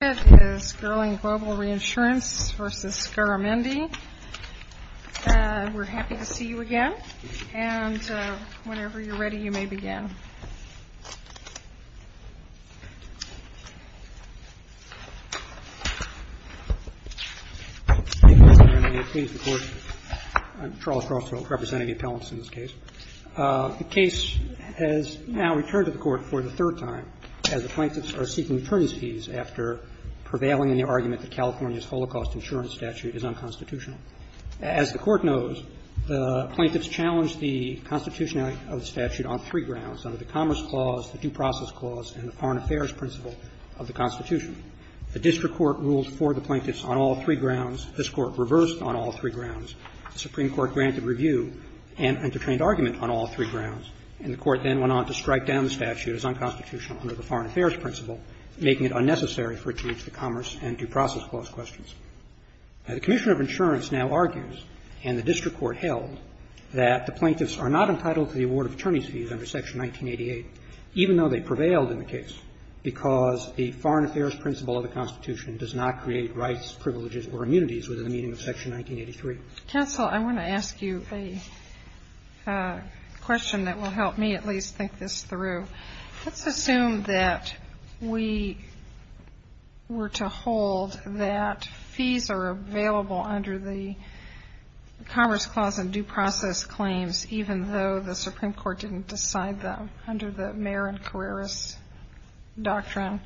is Gerlin Global Reinsurance v. Garamendi. We're happy to see you again. And whenever you're ready, you may begin. Mr. Garamendi, please report. I'm Charles Crossfield, representing the appellants in this case. The case has now returned to the court for the third time as the plaintiffs are seeking attorneys' fees after prevailing in the argument that California's Holocaust Insurance Statute is unconstitutional. As the Court knows, the plaintiffs challenged the constitutionality of the statute on three grounds, under the Commerce Clause, the Due Process Clause, and the Foreign Affairs Principle of the Constitution. The district court ruled for the plaintiffs on all three grounds. This Court reversed on all three grounds. The Supreme Court granted review and entertained argument on all three grounds. And the Court then went on to strike down the statute as unconstitutional under the Foreign Affairs Principle, making it unnecessary for it to reach the Commerce and Due Process Clause questions. The Commissioner of Insurance now argues, and the district court held, that the plaintiffs are not entitled to the award of attorneys' fees under Section 1988, even though they prevailed in the case, because the Foreign Affairs Principle of the Constitution does not create rights, privileges, or immunities within the meaning of Section 1983. Counsel, I want to ask you a question that will help me at least think this through. Let's assume that we were to hold that fees are available under the Commerce Clause and Due Process Claims, even though the Supreme Court didn't decide them under the Marin-Carreras Doctrine.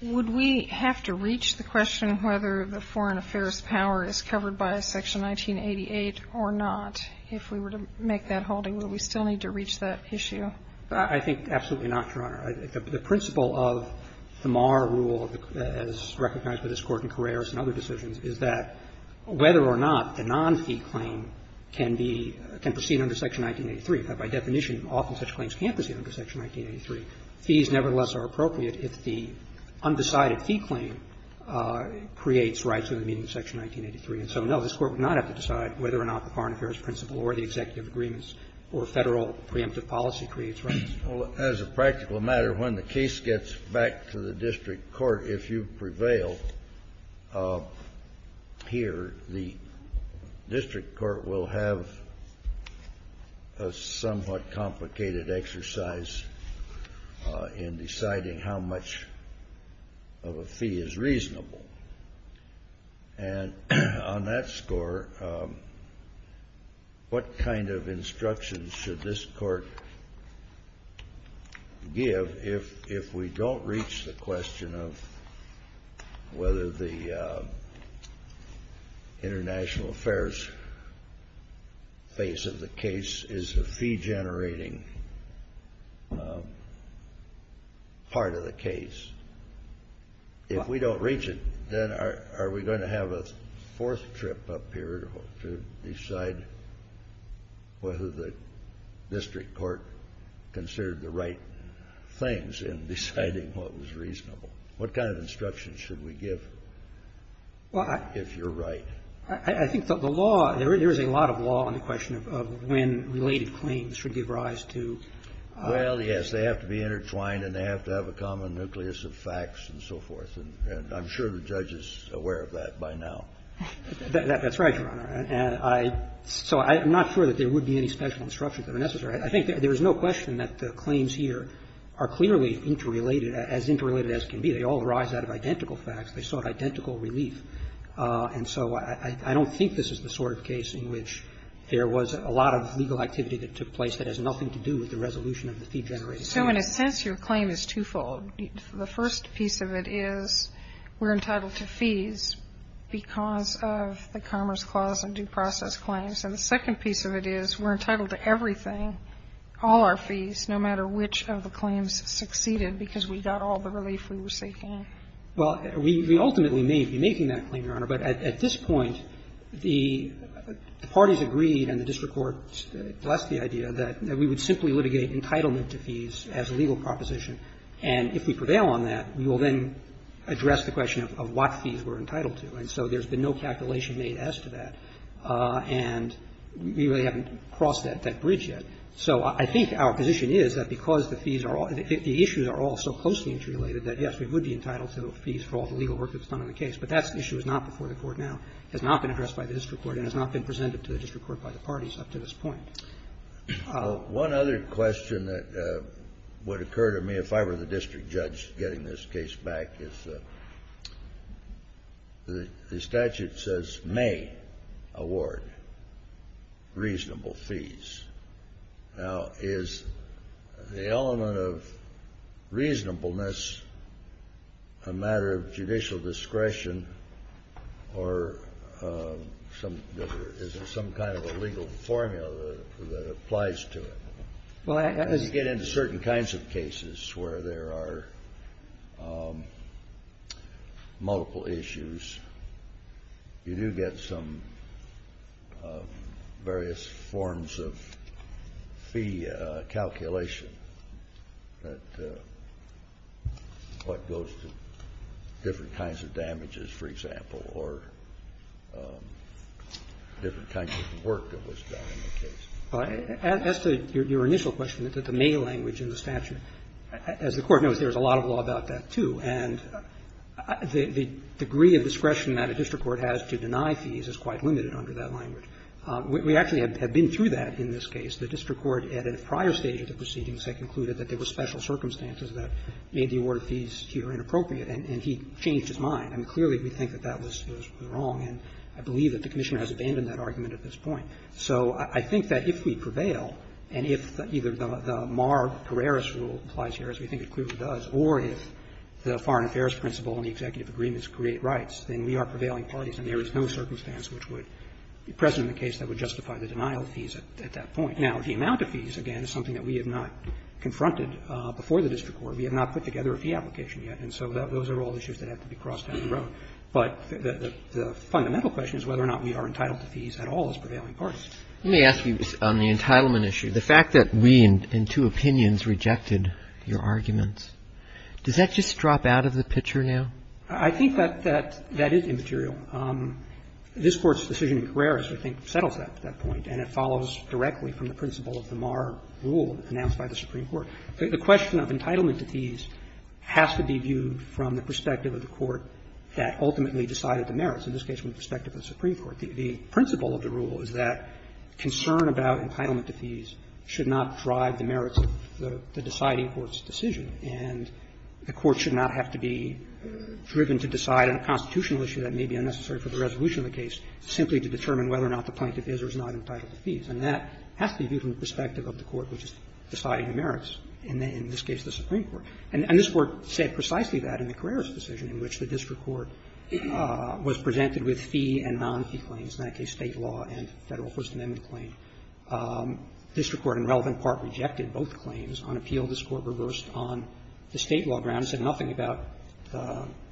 Would we have to reach the question whether the Foreign Affairs power is covered by Section 1988 or not if we were to make that holding? Would we still need to reach that issue? I think absolutely not, Your Honor. The principle of the Marr rule, as recognized by this Court in Carreras and other decisions, is that whether or not the non-fee claim can be – can proceed under Section 1983. By definition, often such claims can't proceed under Section 1983. Fees, nevertheless, are appropriate if the undecided fee claim creates rights within the meaning of Section 1983. And so, no, this Court would not have to decide whether or not the Foreign Affairs principle or the executive agreements or Federal preemptive policy creates rights. Well, as a practical matter, when the case gets back to the district court, if you prevail here, the district court will have a somewhat complicated exercise in deciding how much of a fee is reasonable. And on that score, what kind of instructions should this Court give if we don't reach the question of whether the international affairs face of the case is a fee-generating part of the case? If we don't reach it, then are we going to have a fourth trip up here to decide whether the district court considered the right things in deciding what was reasonable? What kind of instructions should we give if you're right? I think the law – there is a lot of law on the question of when related claims should give rise to fees. Well, yes, they have to be intertwined, and they have to have a common nucleus of facts and so forth. And I'm sure the judge is aware of that by now. That's right, Your Honor. And I – so I'm not sure that there would be any special instructions that are necessary. I think there is no question that the claims here are clearly interrelated, as interrelated as can be. They all arise out of identical facts. They sought identical relief. And so I don't think this is the sort of case in which there was a lot of legal activity that took place that has nothing to do with the resolution of the fee-generated claim. So in a sense, your claim is twofold. The first piece of it is we're entitled to fees because of the Commerce Clause and due process claims. And the second piece of it is we're entitled to everything, all our fees, no matter which of the claims succeeded, because we got all the relief we were seeking. Well, we ultimately may be making that claim, Your Honor. But at this point, the parties agreed and the district court blessed the idea that we would simply litigate entitlement to fees as a legal proposition. And if we prevail on that, we will then address the question of what fees we're entitled to. And so there's been no calculation made as to that. And we really haven't crossed that bridge yet. So I think our position is that because the fees are all – the issues are all so closely interrelated that, yes, we would be entitled to fees for all the legal work that was not before the court now, has not been addressed by the district court, and has not been presented to the district court by the parties up to this point. One other question that would occur to me, if I were the district judge getting this case back, is the statute says may award reasonable fees. Now, is the element of reasonableness a matter of judicial discretion or some – that there isn't some kind of a legal formula that applies to it? Well, I – As you get into certain kinds of cases where there are multiple issues, you do get some various forms of fee calculation that – what goes to different kinds of damages, for example, or different kinds of work that was done in the case. As to your initial question, the may language in the statute, as the Court knows, there's a lot of law about that, too. And the degree of discretion that a district court has to deny fees is quite limited under that language. We actually have been through that in this case. The district court, at a prior stage of the proceedings, had concluded that there were special circumstances that made the award of fees here inappropriate, and he changed his mind. I mean, clearly, we think that that was wrong, and I believe that the Commissioner has abandoned that argument at this point. So I think that if we prevail, and if either the Marr-Carreras rule applies here, as we think it clearly does, or if the foreign affairs principle and the executive agreements create rights, then we are prevailing parties, and there is no circumstance which would be present in the case that would justify the denial of fees at that point. Now, the amount of fees, again, is something that we have not confronted before the district court. We have not put together a fee application yet, and so those are all issues that have to be crossed down the road. But the fundamental question is whether or not we are entitled to fees at all as prevailing parties. Roberts. Let me ask you on the entitlement issue. The fact that we in two opinions rejected your arguments, does that just drop out of the picture now? I think that that is immaterial. This Court's decision in Carreras, I think, settles that at that point, and it follows directly from the principle of the Marr rule announced by the Supreme Court. The question of entitlement to fees has to be viewed from the perspective of the court that ultimately decided the merits, in this case from the perspective of the Supreme Court. The principle of the rule is that concern about entitlement to fees should not drive the merits of the deciding court's decision, and the court should not have to be driven to decide on a constitutional issue that may be unnecessary for the resolution of the case simply to determine whether or not the plaintiff is or is not entitled to fees. And that has to be viewed from the perspective of the court which is deciding the merits, in this case the Supreme Court. And this Court said precisely that in the Carreras decision in which the district court was presented with fee and non-fee claims, in that case State law and Federal First Amendment claim. District court, in relevant part, rejected both claims. On appeal, this Court reversed on the State law grounds, said nothing about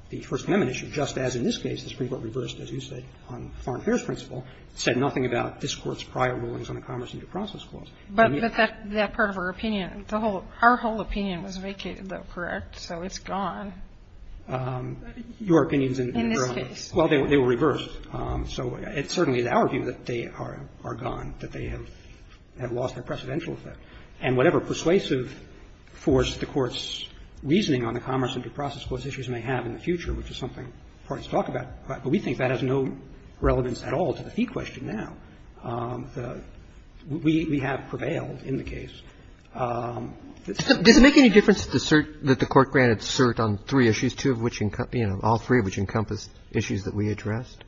the First Amendment issue, just as in this case the Supreme Court reversed, as you said, on foreign affairs principle, said nothing about this Court's prior rulings on a commerce interprocess clause. But that part of our opinion, the whole of our whole opinion was vacated, though, correct? So it's gone. Your opinion is irrelevant. In this case. Well, they were reversed. So it certainly is our view that they are gone, that they have lost their precedential effect. And whatever persuasive force the Court's reasoning on the commerce interprocess clause issues may have in the future, which is something the parties talk about, but we think that has no relevance at all to the fee question now. We have prevailed in the case. Does it make any difference that the court granted cert on three issues, two of which encompassed, all three of which encompassed issues that we addressed?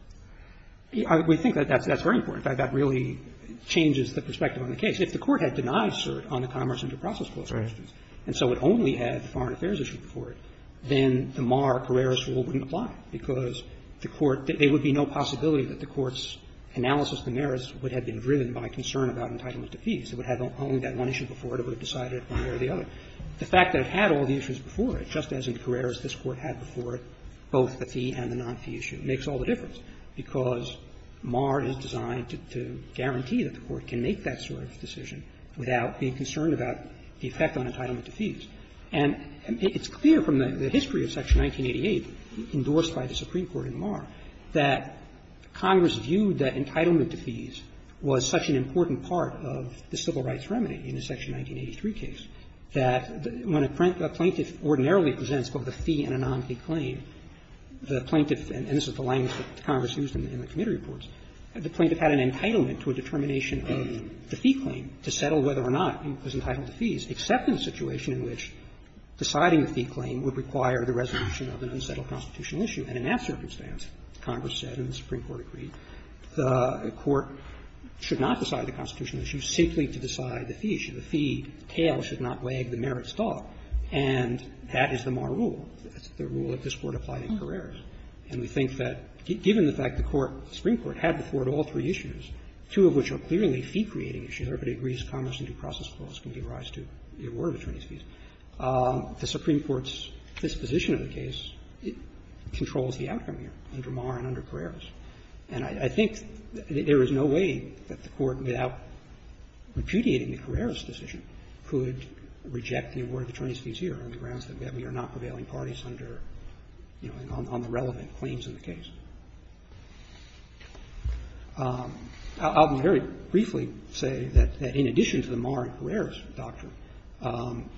We think that that's very important. That really changes the perspective on the case. If the Court had denied cert on the commerce interprocess clause questions, and so it only had the foreign affairs issue before it, then the Mar-Carreras rule wouldn't apply, because the Court – there would be no possibility that the Court's analysis of the merits would have been driven by concern about entitlement to fees. It would have only had that one issue before it, it would have decided it one way or the other. The fact that it had all the issues before it, just as in Carreras this Court had before it, both the fee and the non-fee issue, makes all the difference, because Mar is designed to guarantee that the Court can make that sort of decision without being concerned about the effect on entitlement to fees. And it's clear from the history of Section 1988, endorsed by the Supreme Court in Mar, that Congress viewed that entitlement to fees was such an important part of the civil rights remedy in the Section 1983 case that when a plaintiff ordinarily presents both a fee and a non-fee claim, the plaintiff – and this is the language that Congress used in the committee reports – the plaintiff had an entitlement to a determination of the fee claim to settle whether or not he was entitled to fees, except in a situation in which deciding the fee claim would require the resolution of an unsettled constitutional issue. And in that circumstance, Congress said and the Supreme Court agreed, the Court should not decide the constitutional issue simply to decide the fee issue. The fee tale should not wag the merits dog. And that is the Mar rule. That's the rule that this Court applied in Carreras. And we think that, given the fact the Court, the Supreme Court, had before it all three issues, two of which are clearly fee-creating issues, or if it agrees to Congress and due process clause, can give rise to the award of attorneys' fees. The Supreme Court's disposition of the case controls the outcome here under Mar and under Carreras. And I think there is no way that the Court, without repudiating the Carreras decision, could reject the award of attorneys' fees here on the grounds that we are not prevailing parties under, you know, on the relevant claims in the case. I'll very briefly say that in addition to the Mar and Carreras doctrine,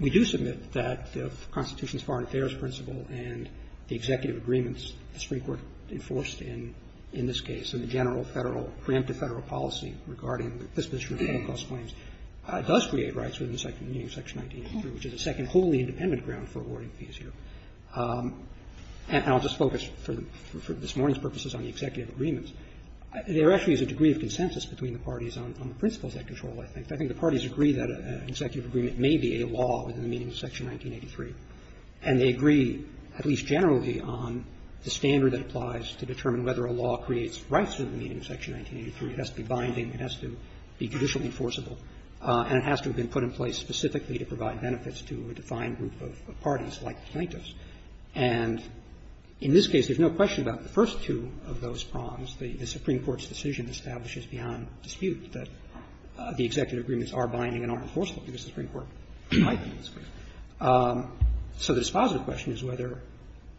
we do submit that the Constitution's foreign affairs principle and the executive agreements the Supreme Court enforced in this case and the general Federal, preemptive Federal policy regarding the disposition of the Holocaust claims does create rights within the meaning of Section 1983, which is a second wholly independent ground for awarding fees here. And I'll just focus, for this morning's purposes, on the executive agreements. There actually is a degree of consensus between the parties on the principles at control, I think. I think the parties agree that an executive agreement may be a law within the meaning of Section 1983. And they agree, at least generally, on the standard that applies to determine whether a law creates rights within the meaning of Section 1983. It has to be binding. It has to be judicially enforceable. And it has to have been put in place specifically to provide benefits to a defined group of parties, like plaintiffs. And in this case, there's no question about the first two of those prongs. The Supreme Court's decision establishes beyond dispute that the executive agreements are binding and are enforceable, because the Supreme Court might be in this case. So the dispositive question is whether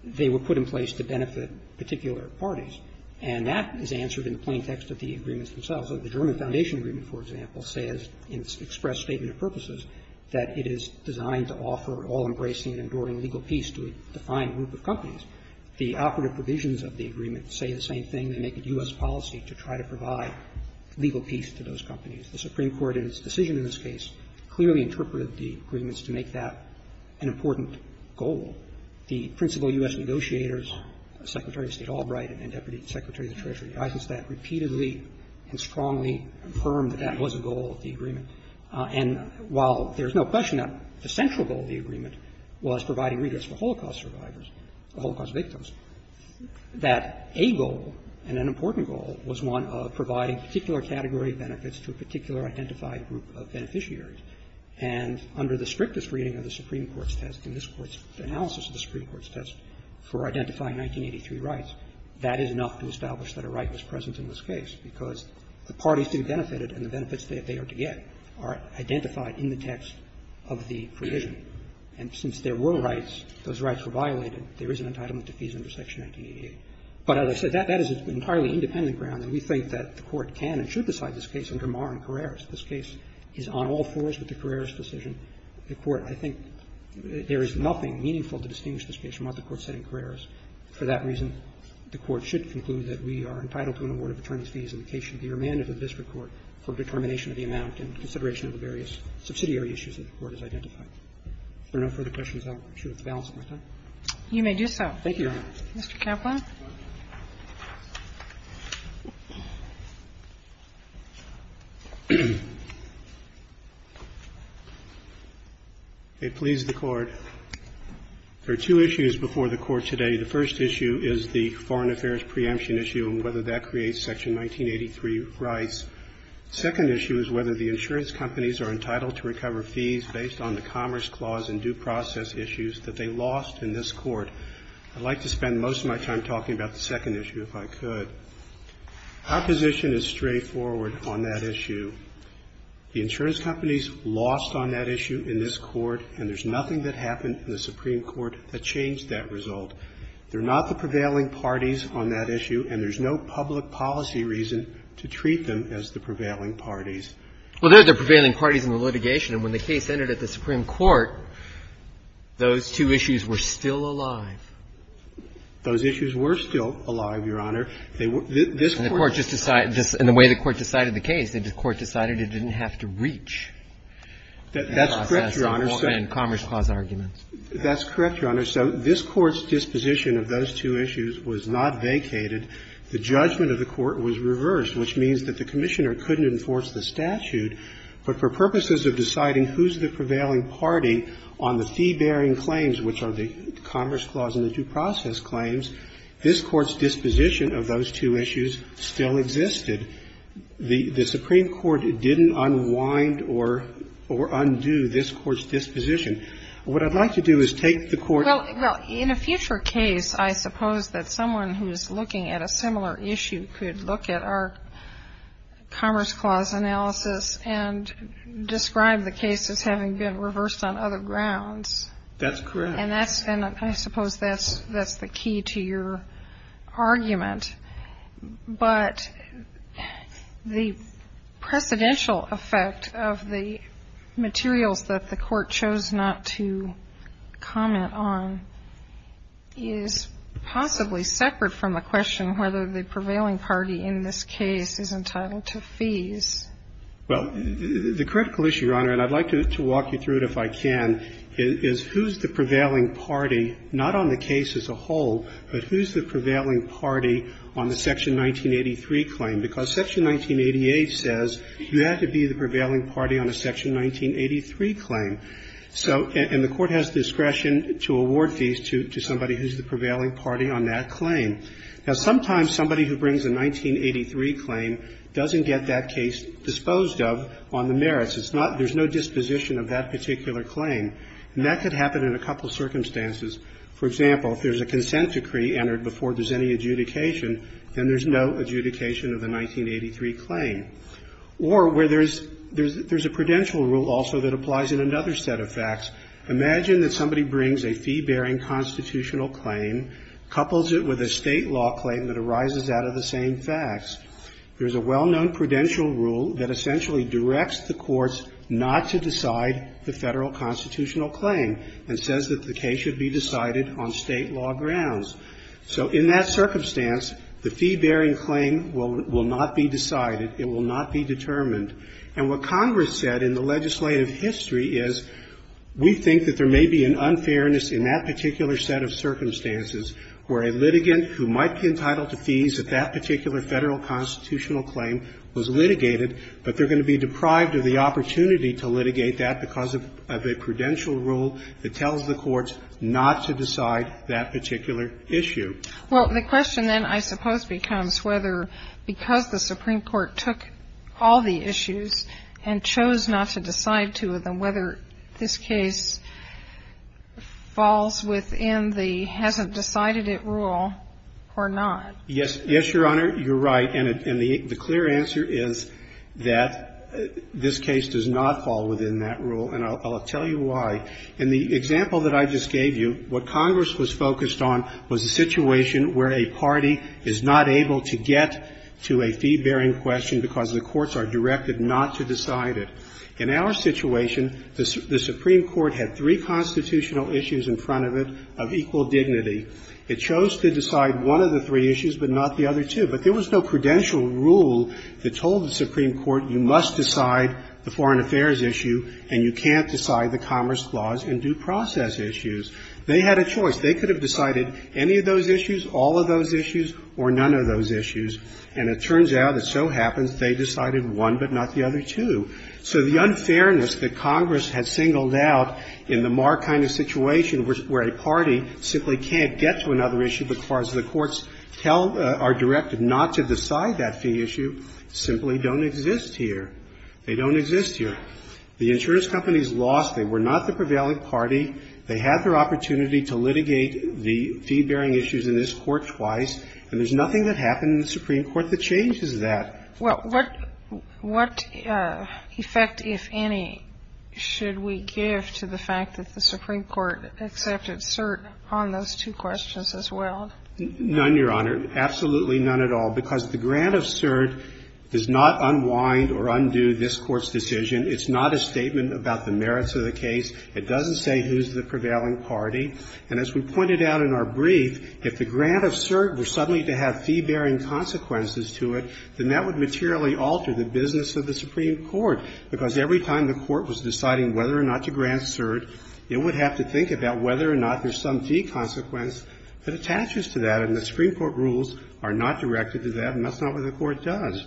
they were put in place to benefit particular parties. And that is answered in the plain text of the agreements themselves. The German Foundation Agreement, for example, says in its express statement of purposes that it is designed to offer all-embracing and enduring legal peace to a defined group of companies. The operative provisions of the agreement say the same thing. They make it U.S. policy to try to provide legal peace to those companies. The Supreme Court, in its decision in this case, clearly interpreted the agreements to make that an important goal. The principal U.S. negotiators, Secretary of State Albright and Deputy Secretary of the Treasury Eisenstadt, repeatedly and strongly affirmed that that was a goal of the agreement. And while there's no question that the central goal of the agreement was providing redress for Holocaust survivors, Holocaust victims, that a goal and an important goal was one of providing particular category of benefits to a particular identified group of beneficiaries. And under the strictest reading of the Supreme Court's test, in this Court's analysis of the Supreme Court's test for identifying 1983 rights, that is enough to establish that a right was present in this case, because the parties who benefited and the benefits that they are to get are identified in the text of the provision. And since there were rights, those rights were violated, there is an entitlement to fees under Section 1988. But as I said, that is an entirely independent ground, and we think that the Court can and should decide this case under Marr and Carreras. This case is on all fours with the Carreras decision. The Court, I think, there is nothing meaningful to distinguish this case from what the Court said in Carreras. For that reason, the Court should conclude that we are entitled to an award of attorneys' fees in the case should be remanded to the district court for determination of the amount and consideration of the various subsidiary issues that the Court has identified. If there are no further questions, I'm sure that's the balance of my time. Kagan. You may do so. Mr. Kaplan. I please the Court. There are two issues before the Court today. The first issue is the foreign affairs preemption issue and whether that creates Section 1983 rights. The second issue is whether the insurance companies are entitled to recover fees based on the Commerce Clause and due process issues that they lost in this Court. I'd like to spend most of my time talking about the second issue if I could. Our position is straightforward on that issue. The insurance companies lost on that issue in this Court, and there's nothing that happened in the Supreme Court that changed that result. They're not the prevailing parties on that issue, and there's no public policy reason to treat them as the prevailing parties. Well, they're the prevailing parties in the litigation, and when the case entered at the Supreme Court, those two issues were still alive. Those issues were still alive, Your Honor. They were – this Court – And the Court just decided – in the way the Court decided the case, the Court decided it didn't have to reach that process – That's correct, Your Honor. And Commerce Clause arguments. That's correct, Your Honor. So this Court's disposition of those two issues was not vacated. The judgment of the Court was reversed, which means that the Commissioner couldn't enforce the statute. But for purposes of deciding who's the prevailing party on the fee-bearing claims, which are the Commerce Clause and the due process claims, this Court's disposition of those two issues still existed. The Supreme Court didn't unwind or undo this Court's disposition. What I'd like to do is take the Court – Well, in a future case, I suppose that someone who's looking at a similar issue could look at our Commerce Clause analysis and describe the case as having been reversed on other grounds. That's correct. And that's – and I suppose that's the key to your argument. But the precedential effect of the materials that the Court chose not to comment on is possibly separate from the question whether the prevailing party in this case is entitled to fees. Well, the critical issue, Your Honor, and I'd like to walk you through it if I can, is who's the prevailing party, not on the case as a whole, but who's the prevailing party on the Section 1983 claim? Because Section 1988 says you have to be the prevailing party on a Section 1983 claim. So – and the Court has discretion to award fees to somebody who's the prevailing party on that claim. Now, sometimes somebody who brings a 1983 claim doesn't get that case disposed of on the merits. It's not – there's no disposition of that particular claim. And that could happen in a couple of circumstances. For example, if there's a consent decree entered before there's any adjudication, then there's no adjudication of the 1983 claim. Or where there's a prudential rule also that applies in another set of facts. Imagine that somebody brings a fee-bearing constitutional claim, couples it with a state law claim that arises out of the same facts. There's a well-known prudential rule that essentially directs the courts not to decide the federal constitutional claim and says that the case should be decided on state law grounds. So in that circumstance, the fee-bearing claim will not be decided. It will not be determined. And what Congress said in the legislative history is, we think that there may be an unfairness in that particular set of circumstances where a litigant who might be entitled to fees at that particular federal constitutional claim was litigated, but they're be deprived of the opportunity to litigate that because of a prudential rule that tells the courts not to decide that particular issue. Well, the question then I suppose becomes whether because the Supreme Court took all the issues and chose not to decide two of them, whether this case falls within the hasn't-decided-it rule or not. Yes. Yes, Your Honor, you're right. And the clear answer is that this case does not fall within that rule, and I'll tell you why. In the example that I just gave you, what Congress was focused on was a situation where a party is not able to get to a fee-bearing question because the courts are directed not to decide it. In our situation, the Supreme Court had three constitutional issues in front of it of equal dignity. It chose to decide one of the three issues, but not the other two. But there was no prudential rule that told the Supreme Court you must decide the Foreign Affairs issue and you can't decide the Commerce Clause and due process issues. They had a choice. They could have decided any of those issues, all of those issues, or none of those issues. And it turns out that so happens, they decided one but not the other two. So the unfairness that Congress had singled out in the Marr kind of situation where a party simply can't get to another issue because the courts tell or are directed not to decide that fee issue, simply don't exist here. They don't exist here. The insurance companies lost. They were not the prevailing party. They had their opportunity to litigate the fee-bearing issues in this Court twice. And there's nothing that happened in the Supreme Court that changes that. Well, what effect, if any, should we give to the fact that the Supreme Court accepted cert on those two questions as well? None, Your Honor. Absolutely none at all, because the grant of cert does not unwind or undo this Court's decision. It's not a statement about the merits of the case. It doesn't say who's the prevailing party. And as we pointed out in our brief, if the grant of cert were suddenly to have fee-bearing consequences to it, then that would materially alter the business of the Supreme Court, because every time the Court was deciding whether or not to grant cert, it would have to think about whether or not there's some fee consequence that attaches to that. And the Supreme Court rules are not directed to that, and that's not what the Court does.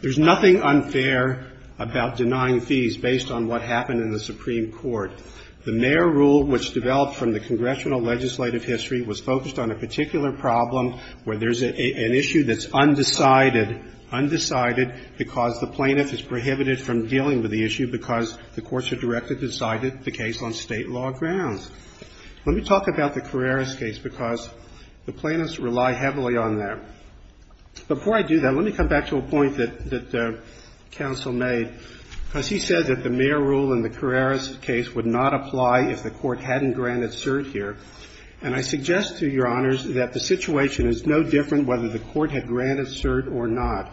There's nothing unfair about denying fees based on what happened in the Supreme Court. The Mayer rule, which developed from the congressional legislative history, was focused on a particular problem where there's an issue that's undecided, undecided because the plaintiff is prohibited from dealing with the issue because the courts are directed to decide the case on State law grounds. Let me talk about the Carreras case, because the plaintiffs rely heavily on that. Before I do that, let me come back to a point that the counsel made, because he said that the Mayer rule in the Carreras case would not apply if the Court hadn't granted cert here. And I suggest to Your Honors that the situation is no different whether the Court had granted cert or not.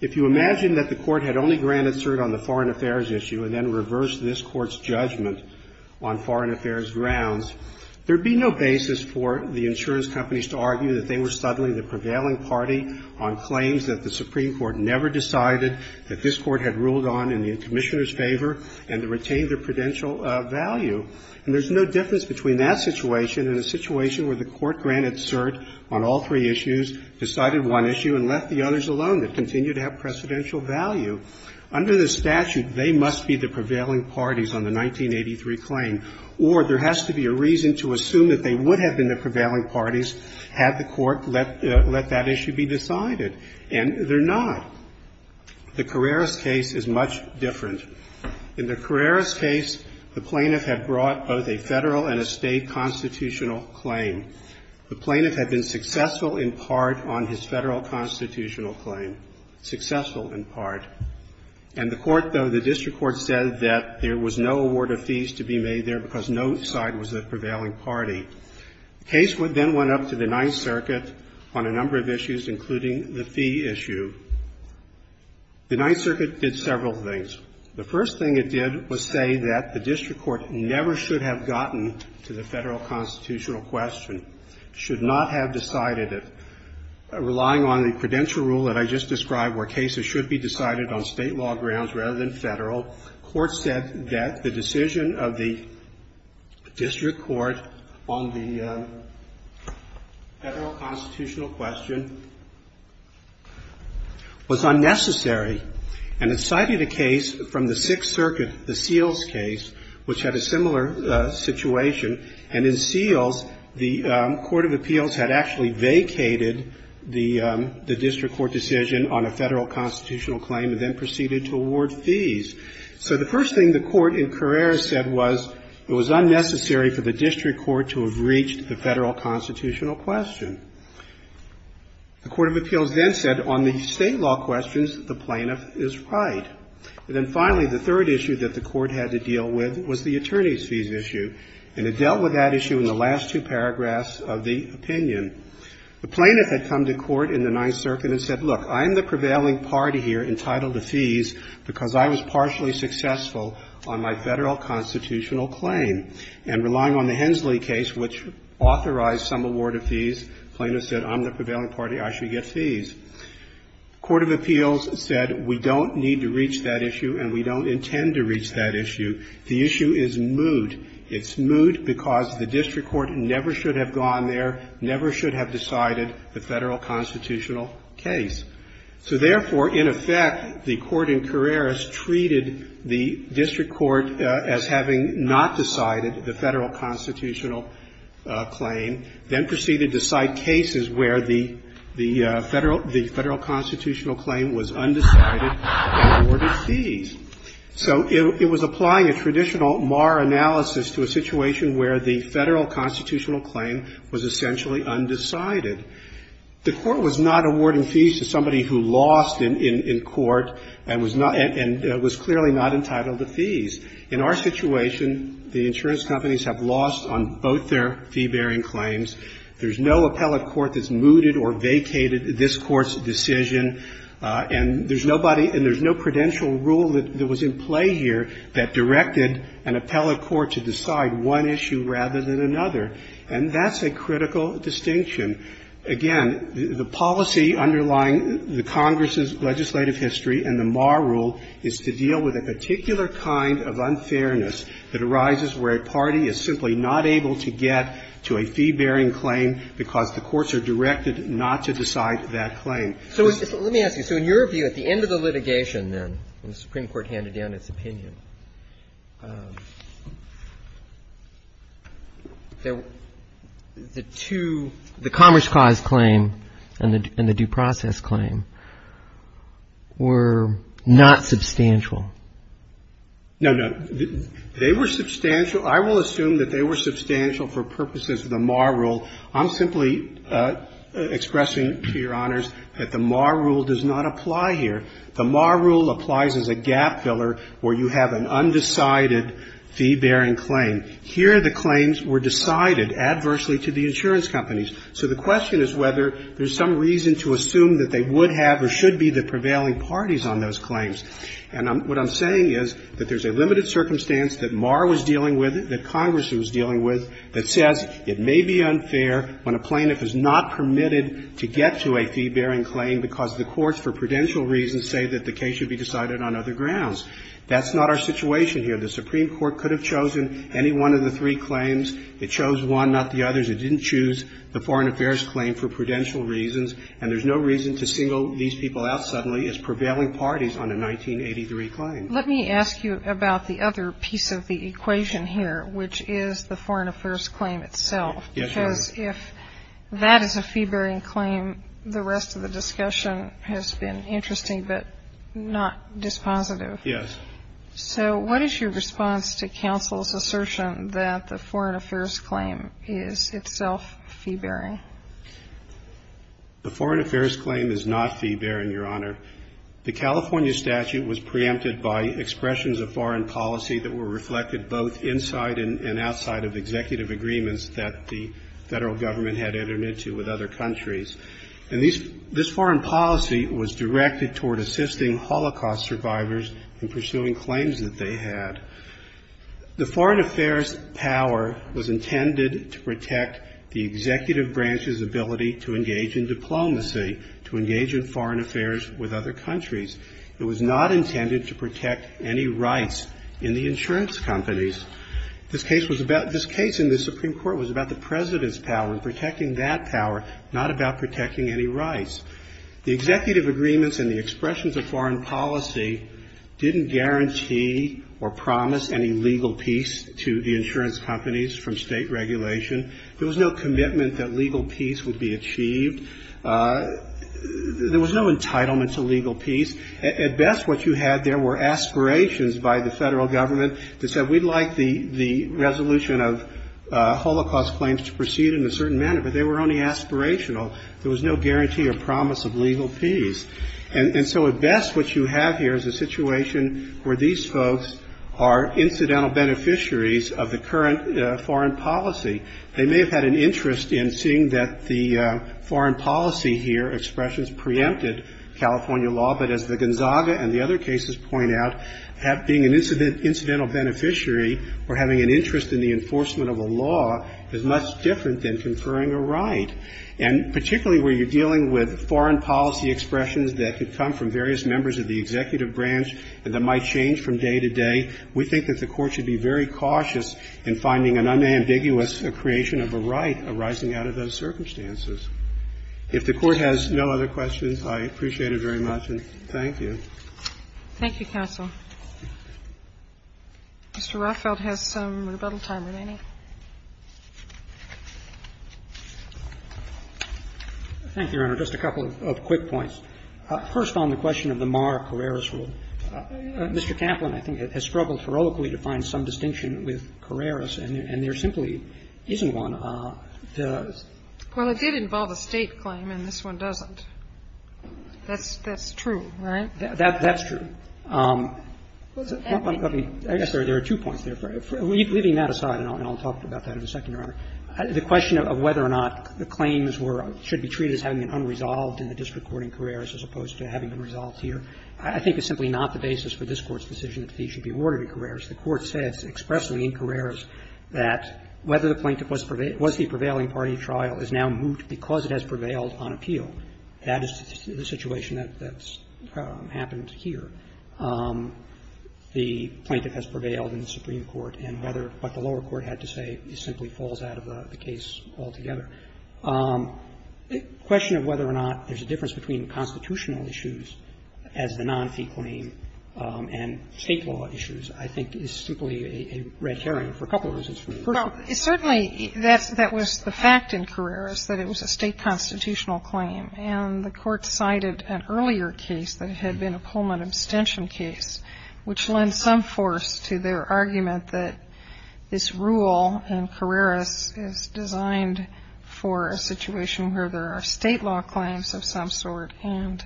If you imagine that the Court had only granted cert on the foreign affairs issue and then reversed this Court's judgment on foreign affairs grounds, there would be no basis for the insurance companies to argue that they were suddenly the prevailing party on claims that the Supreme Court never decided, that this Court had ruled on in the Commissioner's favor, and to retain their prudential value. And there's no difference between that situation and a situation where the Court granted cert on all three issues, decided one issue, and left the others alone that continue to have precedential value. Under the statute, they must be the prevailing parties on the 1983 claim, or there has to be a reason to assume that they would have been the prevailing parties had the Court let that issue be decided, and they're not. The Carreras case is much different. In the Carreras case, the plaintiff had brought both a Federal and a State constitutional claim. The plaintiff had been successful in part on his Federal constitutional claim, successful in part. And the Court, though, the district court said that there was no award of fees to be made there because no side was the prevailing party. The case then went up to the Ninth Circuit on a number of issues, including the fee issue. The Ninth Circuit did several things. The first thing it did was say that the district court never should have gotten to the Federal constitutional question, should not have decided it, relying on the predential rule that I just described where cases should be decided on State law grounds rather than Federal. Court said that the decision of the district court on the Federal constitutional question was unnecessary, and it cited a case from the Sixth Circuit, the Seals case, which had a similar situation. And in Seals, the Court of Appeals had actually vacated the district court decision on a Federal constitutional claim and then proceeded to award fees. So the first thing the Court in Carreras said was it was unnecessary for the district court to have reached the Federal constitutional question. The Court of Appeals then said on the State law questions, the plaintiff is right. And then finally, the third issue that the Court had to deal with was the attorney's fees issue. And it dealt with that issue in the last two paragraphs of the opinion. The plaintiff had come to court in the Ninth Circuit and said, look, I'm the prevailing party here entitled to fees because I was partially successful on my Federal constitutional claim. And relying on the Hensley case, which authorized some award of fees, plaintiff said, I'm the prevailing party. I should get fees. Court of Appeals said we don't need to reach that issue and we don't intend to reach that issue. The issue is mood. It's mood because the district court never should have gone there, never should have decided the Federal constitutional case. So therefore, in effect, the Court in Carreras treated the district court as having not decided the Federal constitutional claim, then proceeded to cite cases where the Federal constitutional claim was undecided and awarded fees. So it was applying a traditional Marr analysis to a situation where the Federal constitutional claim was essentially undecided. The Court was not awarding fees to somebody who lost in court and was clearly not entitled to fees. In our situation, the insurance companies have lost on both their fee-bearing claims. There's no appellate court that's mooted or vacated this Court's decision. And there's nobody and there's no prudential rule that was in play here that directed an appellate court to decide one issue rather than another. And that's a critical distinction. Again, the policy underlying the Congress's legislative history and the Marr rule is to deal with a particular kind of unfairness that arises where a party is simply not able to get to a fee-bearing claim because the courts are directed not to decide that claim. So let me ask you. So in your view, at the end of the litigation then, when the Supreme Court handed down its opinion, the two, the Commerce Clause claim and the due process claim, were not substantial? No, no. They were substantial. I will assume that they were substantial for purposes of the Marr rule. I'm simply expressing to your honors that the Marr rule does not apply here. The Marr rule applies as a gap filler where you have an undecided fee-bearing claim. Here, the claims were decided adversely to the insurance companies. So the question is whether there's some reason to assume that they would have or should be the prevailing parties on those claims. And what I'm saying is that there's a limited circumstance that Marr was dealing with, that Congress was dealing with, that says it may be unfair when a plaintiff is not permitted to get to a fee-bearing claim because the courts, for prudential reasons, say that the case should be decided on other grounds. That's not our situation here. The Supreme Court could have chosen any one of the three claims. It chose one, not the others. It didn't choose the foreign affairs claim for prudential reasons. And there's no reason to single these people out suddenly as prevailing parties on a 1983 claim. Let me ask you about the other piece of the equation here, which is the foreign affairs claim itself. Because if that is a fee-bearing claim, the rest of the discussion has been interesting, but not dispositive. Yes. So what is your response to counsel's assertion that the foreign affairs claim is itself fee-bearing? The foreign affairs claim is not fee-bearing, Your Honor. The California statute was preempted by expressions of foreign policy that were reflected both inside and outside of executive agreements that the federal government had entered into with other countries. And this foreign policy was directed toward assisting Holocaust survivors in pursuing claims that they had. The foreign affairs power was intended to protect the executive branch's ability to engage in diplomacy, to engage in foreign affairs with other countries. It was not intended to protect any rights in the insurance companies. This case was about, this case in the Supreme Court was about the president's power and protecting that power, not about protecting any rights. The executive agreements and the expressions of foreign policy didn't guarantee or promise any legal peace to the insurance companies from state regulation. There was no commitment that legal peace would be achieved. There was no entitlement to legal peace. At best, what you had there were aspirations by the federal government that said, we'd like the resolution of Holocaust claims to proceed in a certain manner, but they were only aspirational. There was no guarantee or promise of legal peace. And so at best, what you have here is a situation where these folks are incidental foreign policy. They may have had an interest in seeing that the foreign policy here, expressions preempted California law, but as the Gonzaga and the other cases point out, being an incidental beneficiary or having an interest in the enforcement of a law is much different than conferring a right. And particularly where you're dealing with foreign policy expressions that could come from various members of the executive branch and that might change from day to day, we think that the Court should be very cautious in finding an unambiguous creation of a right arising out of those circumstances. If the Court has no other questions, I appreciate it very much, and thank you. Thank you, counsel. Mr. Rothfeld has some rebuttal time remaining. Thank you, Your Honor. Just a couple of quick points. First on the question of the Mar-a-Carreras rule. Mr. Kaplan, I think, has struggled heroically to find some distinction with Carreras, and there simply isn't one. Well, it did involve a State claim, and this one doesn't. That's true, right? That's true. I guess there are two points there. Leaving that aside, and I'll talk about that in a second, Your Honor, the question of whether or not the claims were or should be treated as having been unresolved in the district court in Carreras as opposed to having been resolved here, I think is simply not the basis for this Court's decision that the fee should be awarded in Carreras. The Court says expressly in Carreras that whether the plaintiff was the prevailing party trial is now moot because it has prevailed on appeal. That is the situation that's happened here. The plaintiff has prevailed in the Supreme Court, and whether what the lower court had to say simply falls out of the case altogether. The question of whether or not there's a difference between constitutional issues as the non-fee claim and State law issues, I think, is simply a red herring for a couple of reasons. First of all, it's certainly that's the fact in Carreras that it was a State constitutional claim, and the Court cited an earlier case that had been a Pullman abstention case, which lends some force to their argument that this rule in Carreras is designed for a situation where there are State law claims of some sort and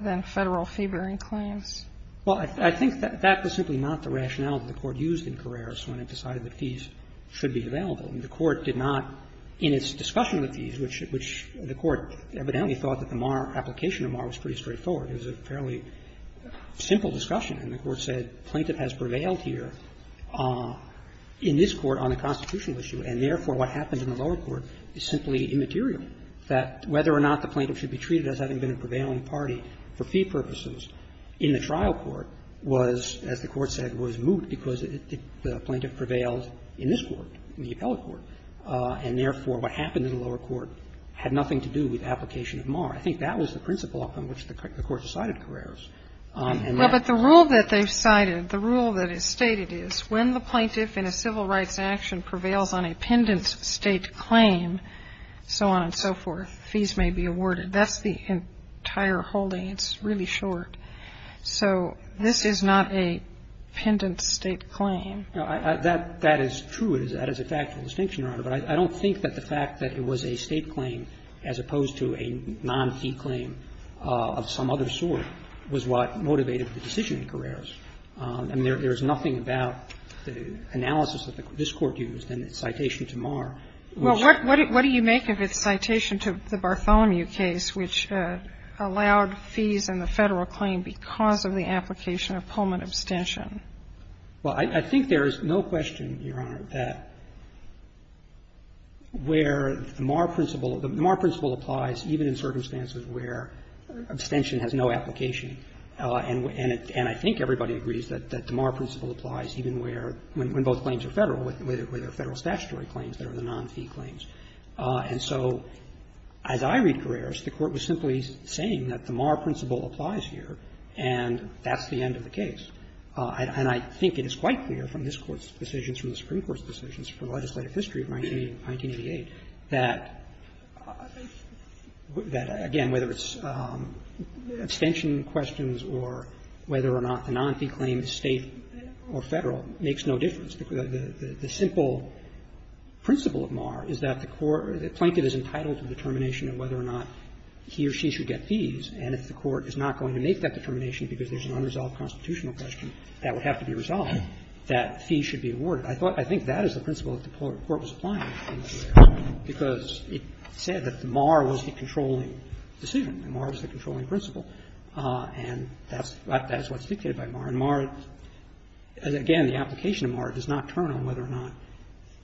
then Federal fee-bearing claims. Well, I think that that was simply not the rationale that the Court used in Carreras when it decided that fees should be available. The Court did not, in its discussion of the fees, which the Court evidently thought that the MAR application of MAR was pretty straightforward. It was a fairly simple discussion, and the Court said plaintiff has prevailed here in this Court on a constitutional issue, and therefore what happens in the lower court is simply immaterial, that whether or not the plaintiff should be treated as having been a prevailing party for fee purposes in the trial court was, as the Court said, was moot because the plaintiff prevailed in this Court, the appellate court, and therefore what happened in the lower court had nothing to do with the application of MAR. I think that was the principle upon which the Court decided Carreras. And that's why I think that's the principle. Well, but the rule that they've cited, the rule that is stated is when the plaintiff in a civil rights action prevails on a pendent State claim, so on and so forth, fees may be awarded. That's the entire holding. It's really short. So this is not a pendent State claim. That is true. That is a factual distinction, Your Honor. But I don't think that the fact that it was a State claim as opposed to a non-fee claim of some other sort was what motivated the decision in Carreras. And there is nothing about the analysis that this Court used in its citation to MAR. Well, what do you make of its citation to the Bartholomew case which allowed fees in the Federal claim because of the application of Pullman abstention? Well, I think there is no question, Your Honor, that where the MAR principle – the MAR principle applies even in circumstances where abstention has no application. And I think everybody agrees that the MAR principle applies even where – when both claims are Federal, whether Federal statutory claims that are the non-fee claims. And so as I read Carreras, the Court was simply saying that the MAR principle applies here, and that's the end of the case. And I think it is quite clear from this Court's decisions, from the Supreme Court's decisions, from legislative history of 1988, that, again, whether it's abstention questions or whether or not the non-fee claim is State or Federal makes no difference. The simple principle of MAR is that the court – that Plankett is entitled to determination of whether or not he or she should get fees. And if the Court is not going to make that determination because there's an unresolved constitutional question that would have to be resolved, that fee should be awarded. I think that is the principle that the court was applying in this case because it said that the MAR was the controlling decision. The MAR was the controlling principle. And that's what's dictated by MAR. And MAR, again, the application of MAR does not turn on whether or not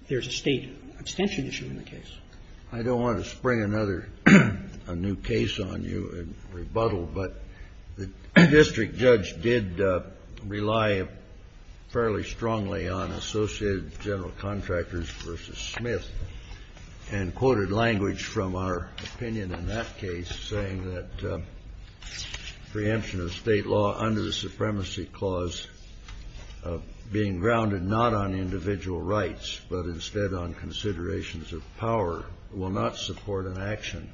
there's a State abstention issue in the case. I don't want to spring another new case on you and rebuttal, but the district judge did rely fairly strongly on Associated General Contractors v. Smith and quoted language from our opinion in that case saying that preemption of State law under the Supremacy Clause being grounded not on individual rights, but instead on considerations of power, will not support an action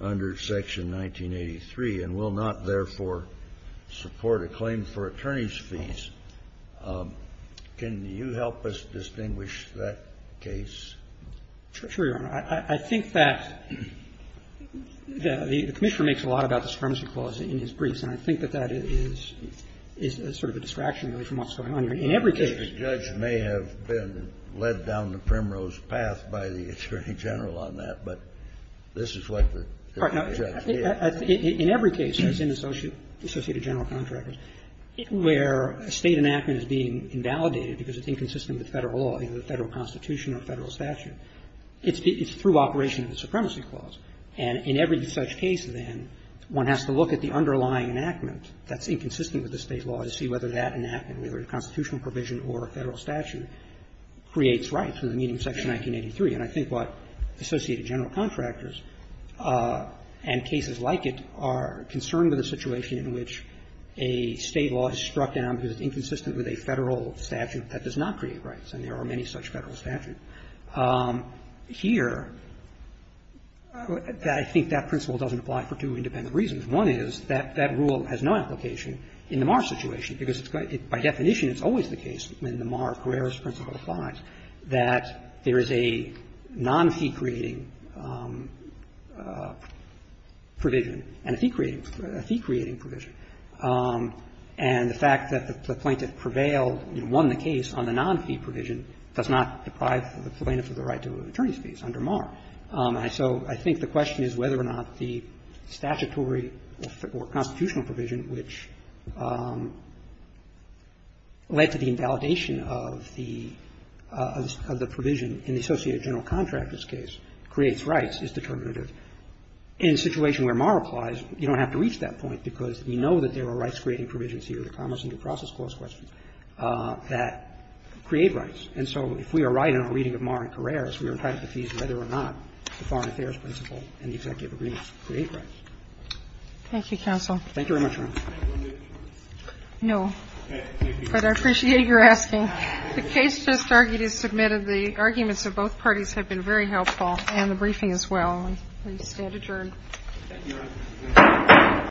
under Section 1983 and will not, therefore, support a claim for attorney's fees. Can you help us distinguish that case? I think that the Commissioner makes a lot about the Supremacy Clause in his briefs, and I think that that is sort of a distraction from what's going on here. In every case the judge may have been led down the primrose path by the Attorney General on that, but this is what the judge did. In every case, as in the Associated General Contractors, where a State enactment is being invalidated because it's inconsistent with Federal law, either the Federal Constitution or Federal statute, it's through operation of the Supremacy Clause. And in every such case, then, one has to look at the underlying enactment that's inconsistent with the State law to see whether that enactment, whether it's a constitutional provision or a Federal statute, creates rights in the meaning of Section 1983. And I think what Associated General Contractors and cases like it are concerned with a situation in which a State law is struck down because it's inconsistent with a Federal statute that does not create rights, and there are many such Federal statutes. Here, I think that principle doesn't apply for two independent reasons. One is that that rule has no application in the Marr situation, because it's by definition it's always the case in the Marr-Guerreras principle that there is a non-fee-creating provision and a fee-creating provision. And the fact that the plaintiff prevailed and won the case on the non-fee provision does not deprive the plaintiff of the right to an attorney's fees under Marr. And so I think the question is whether or not the statutory or constitutional provision, which led to the invalidation of the provision in the Associated General Contractors case, creates rights, is determinative. In a situation where Marr applies, you don't have to reach that point because we know that there are rights-creating provisions here, the Commerce and Due Process Clause questions, that create rights. And so if we are right in our reading of Marr and Guerreras, we are entitled to fees whether or not the Foreign Affairs principle and the Executive Agreements create rights. Thank you, counsel. Thank you very much, Your Honor. No, but I appreciate your asking. The case just argued is submitted. The arguments of both parties have been very helpful, and the briefing as well. And we stand adjourned. Thank you, Your Honor.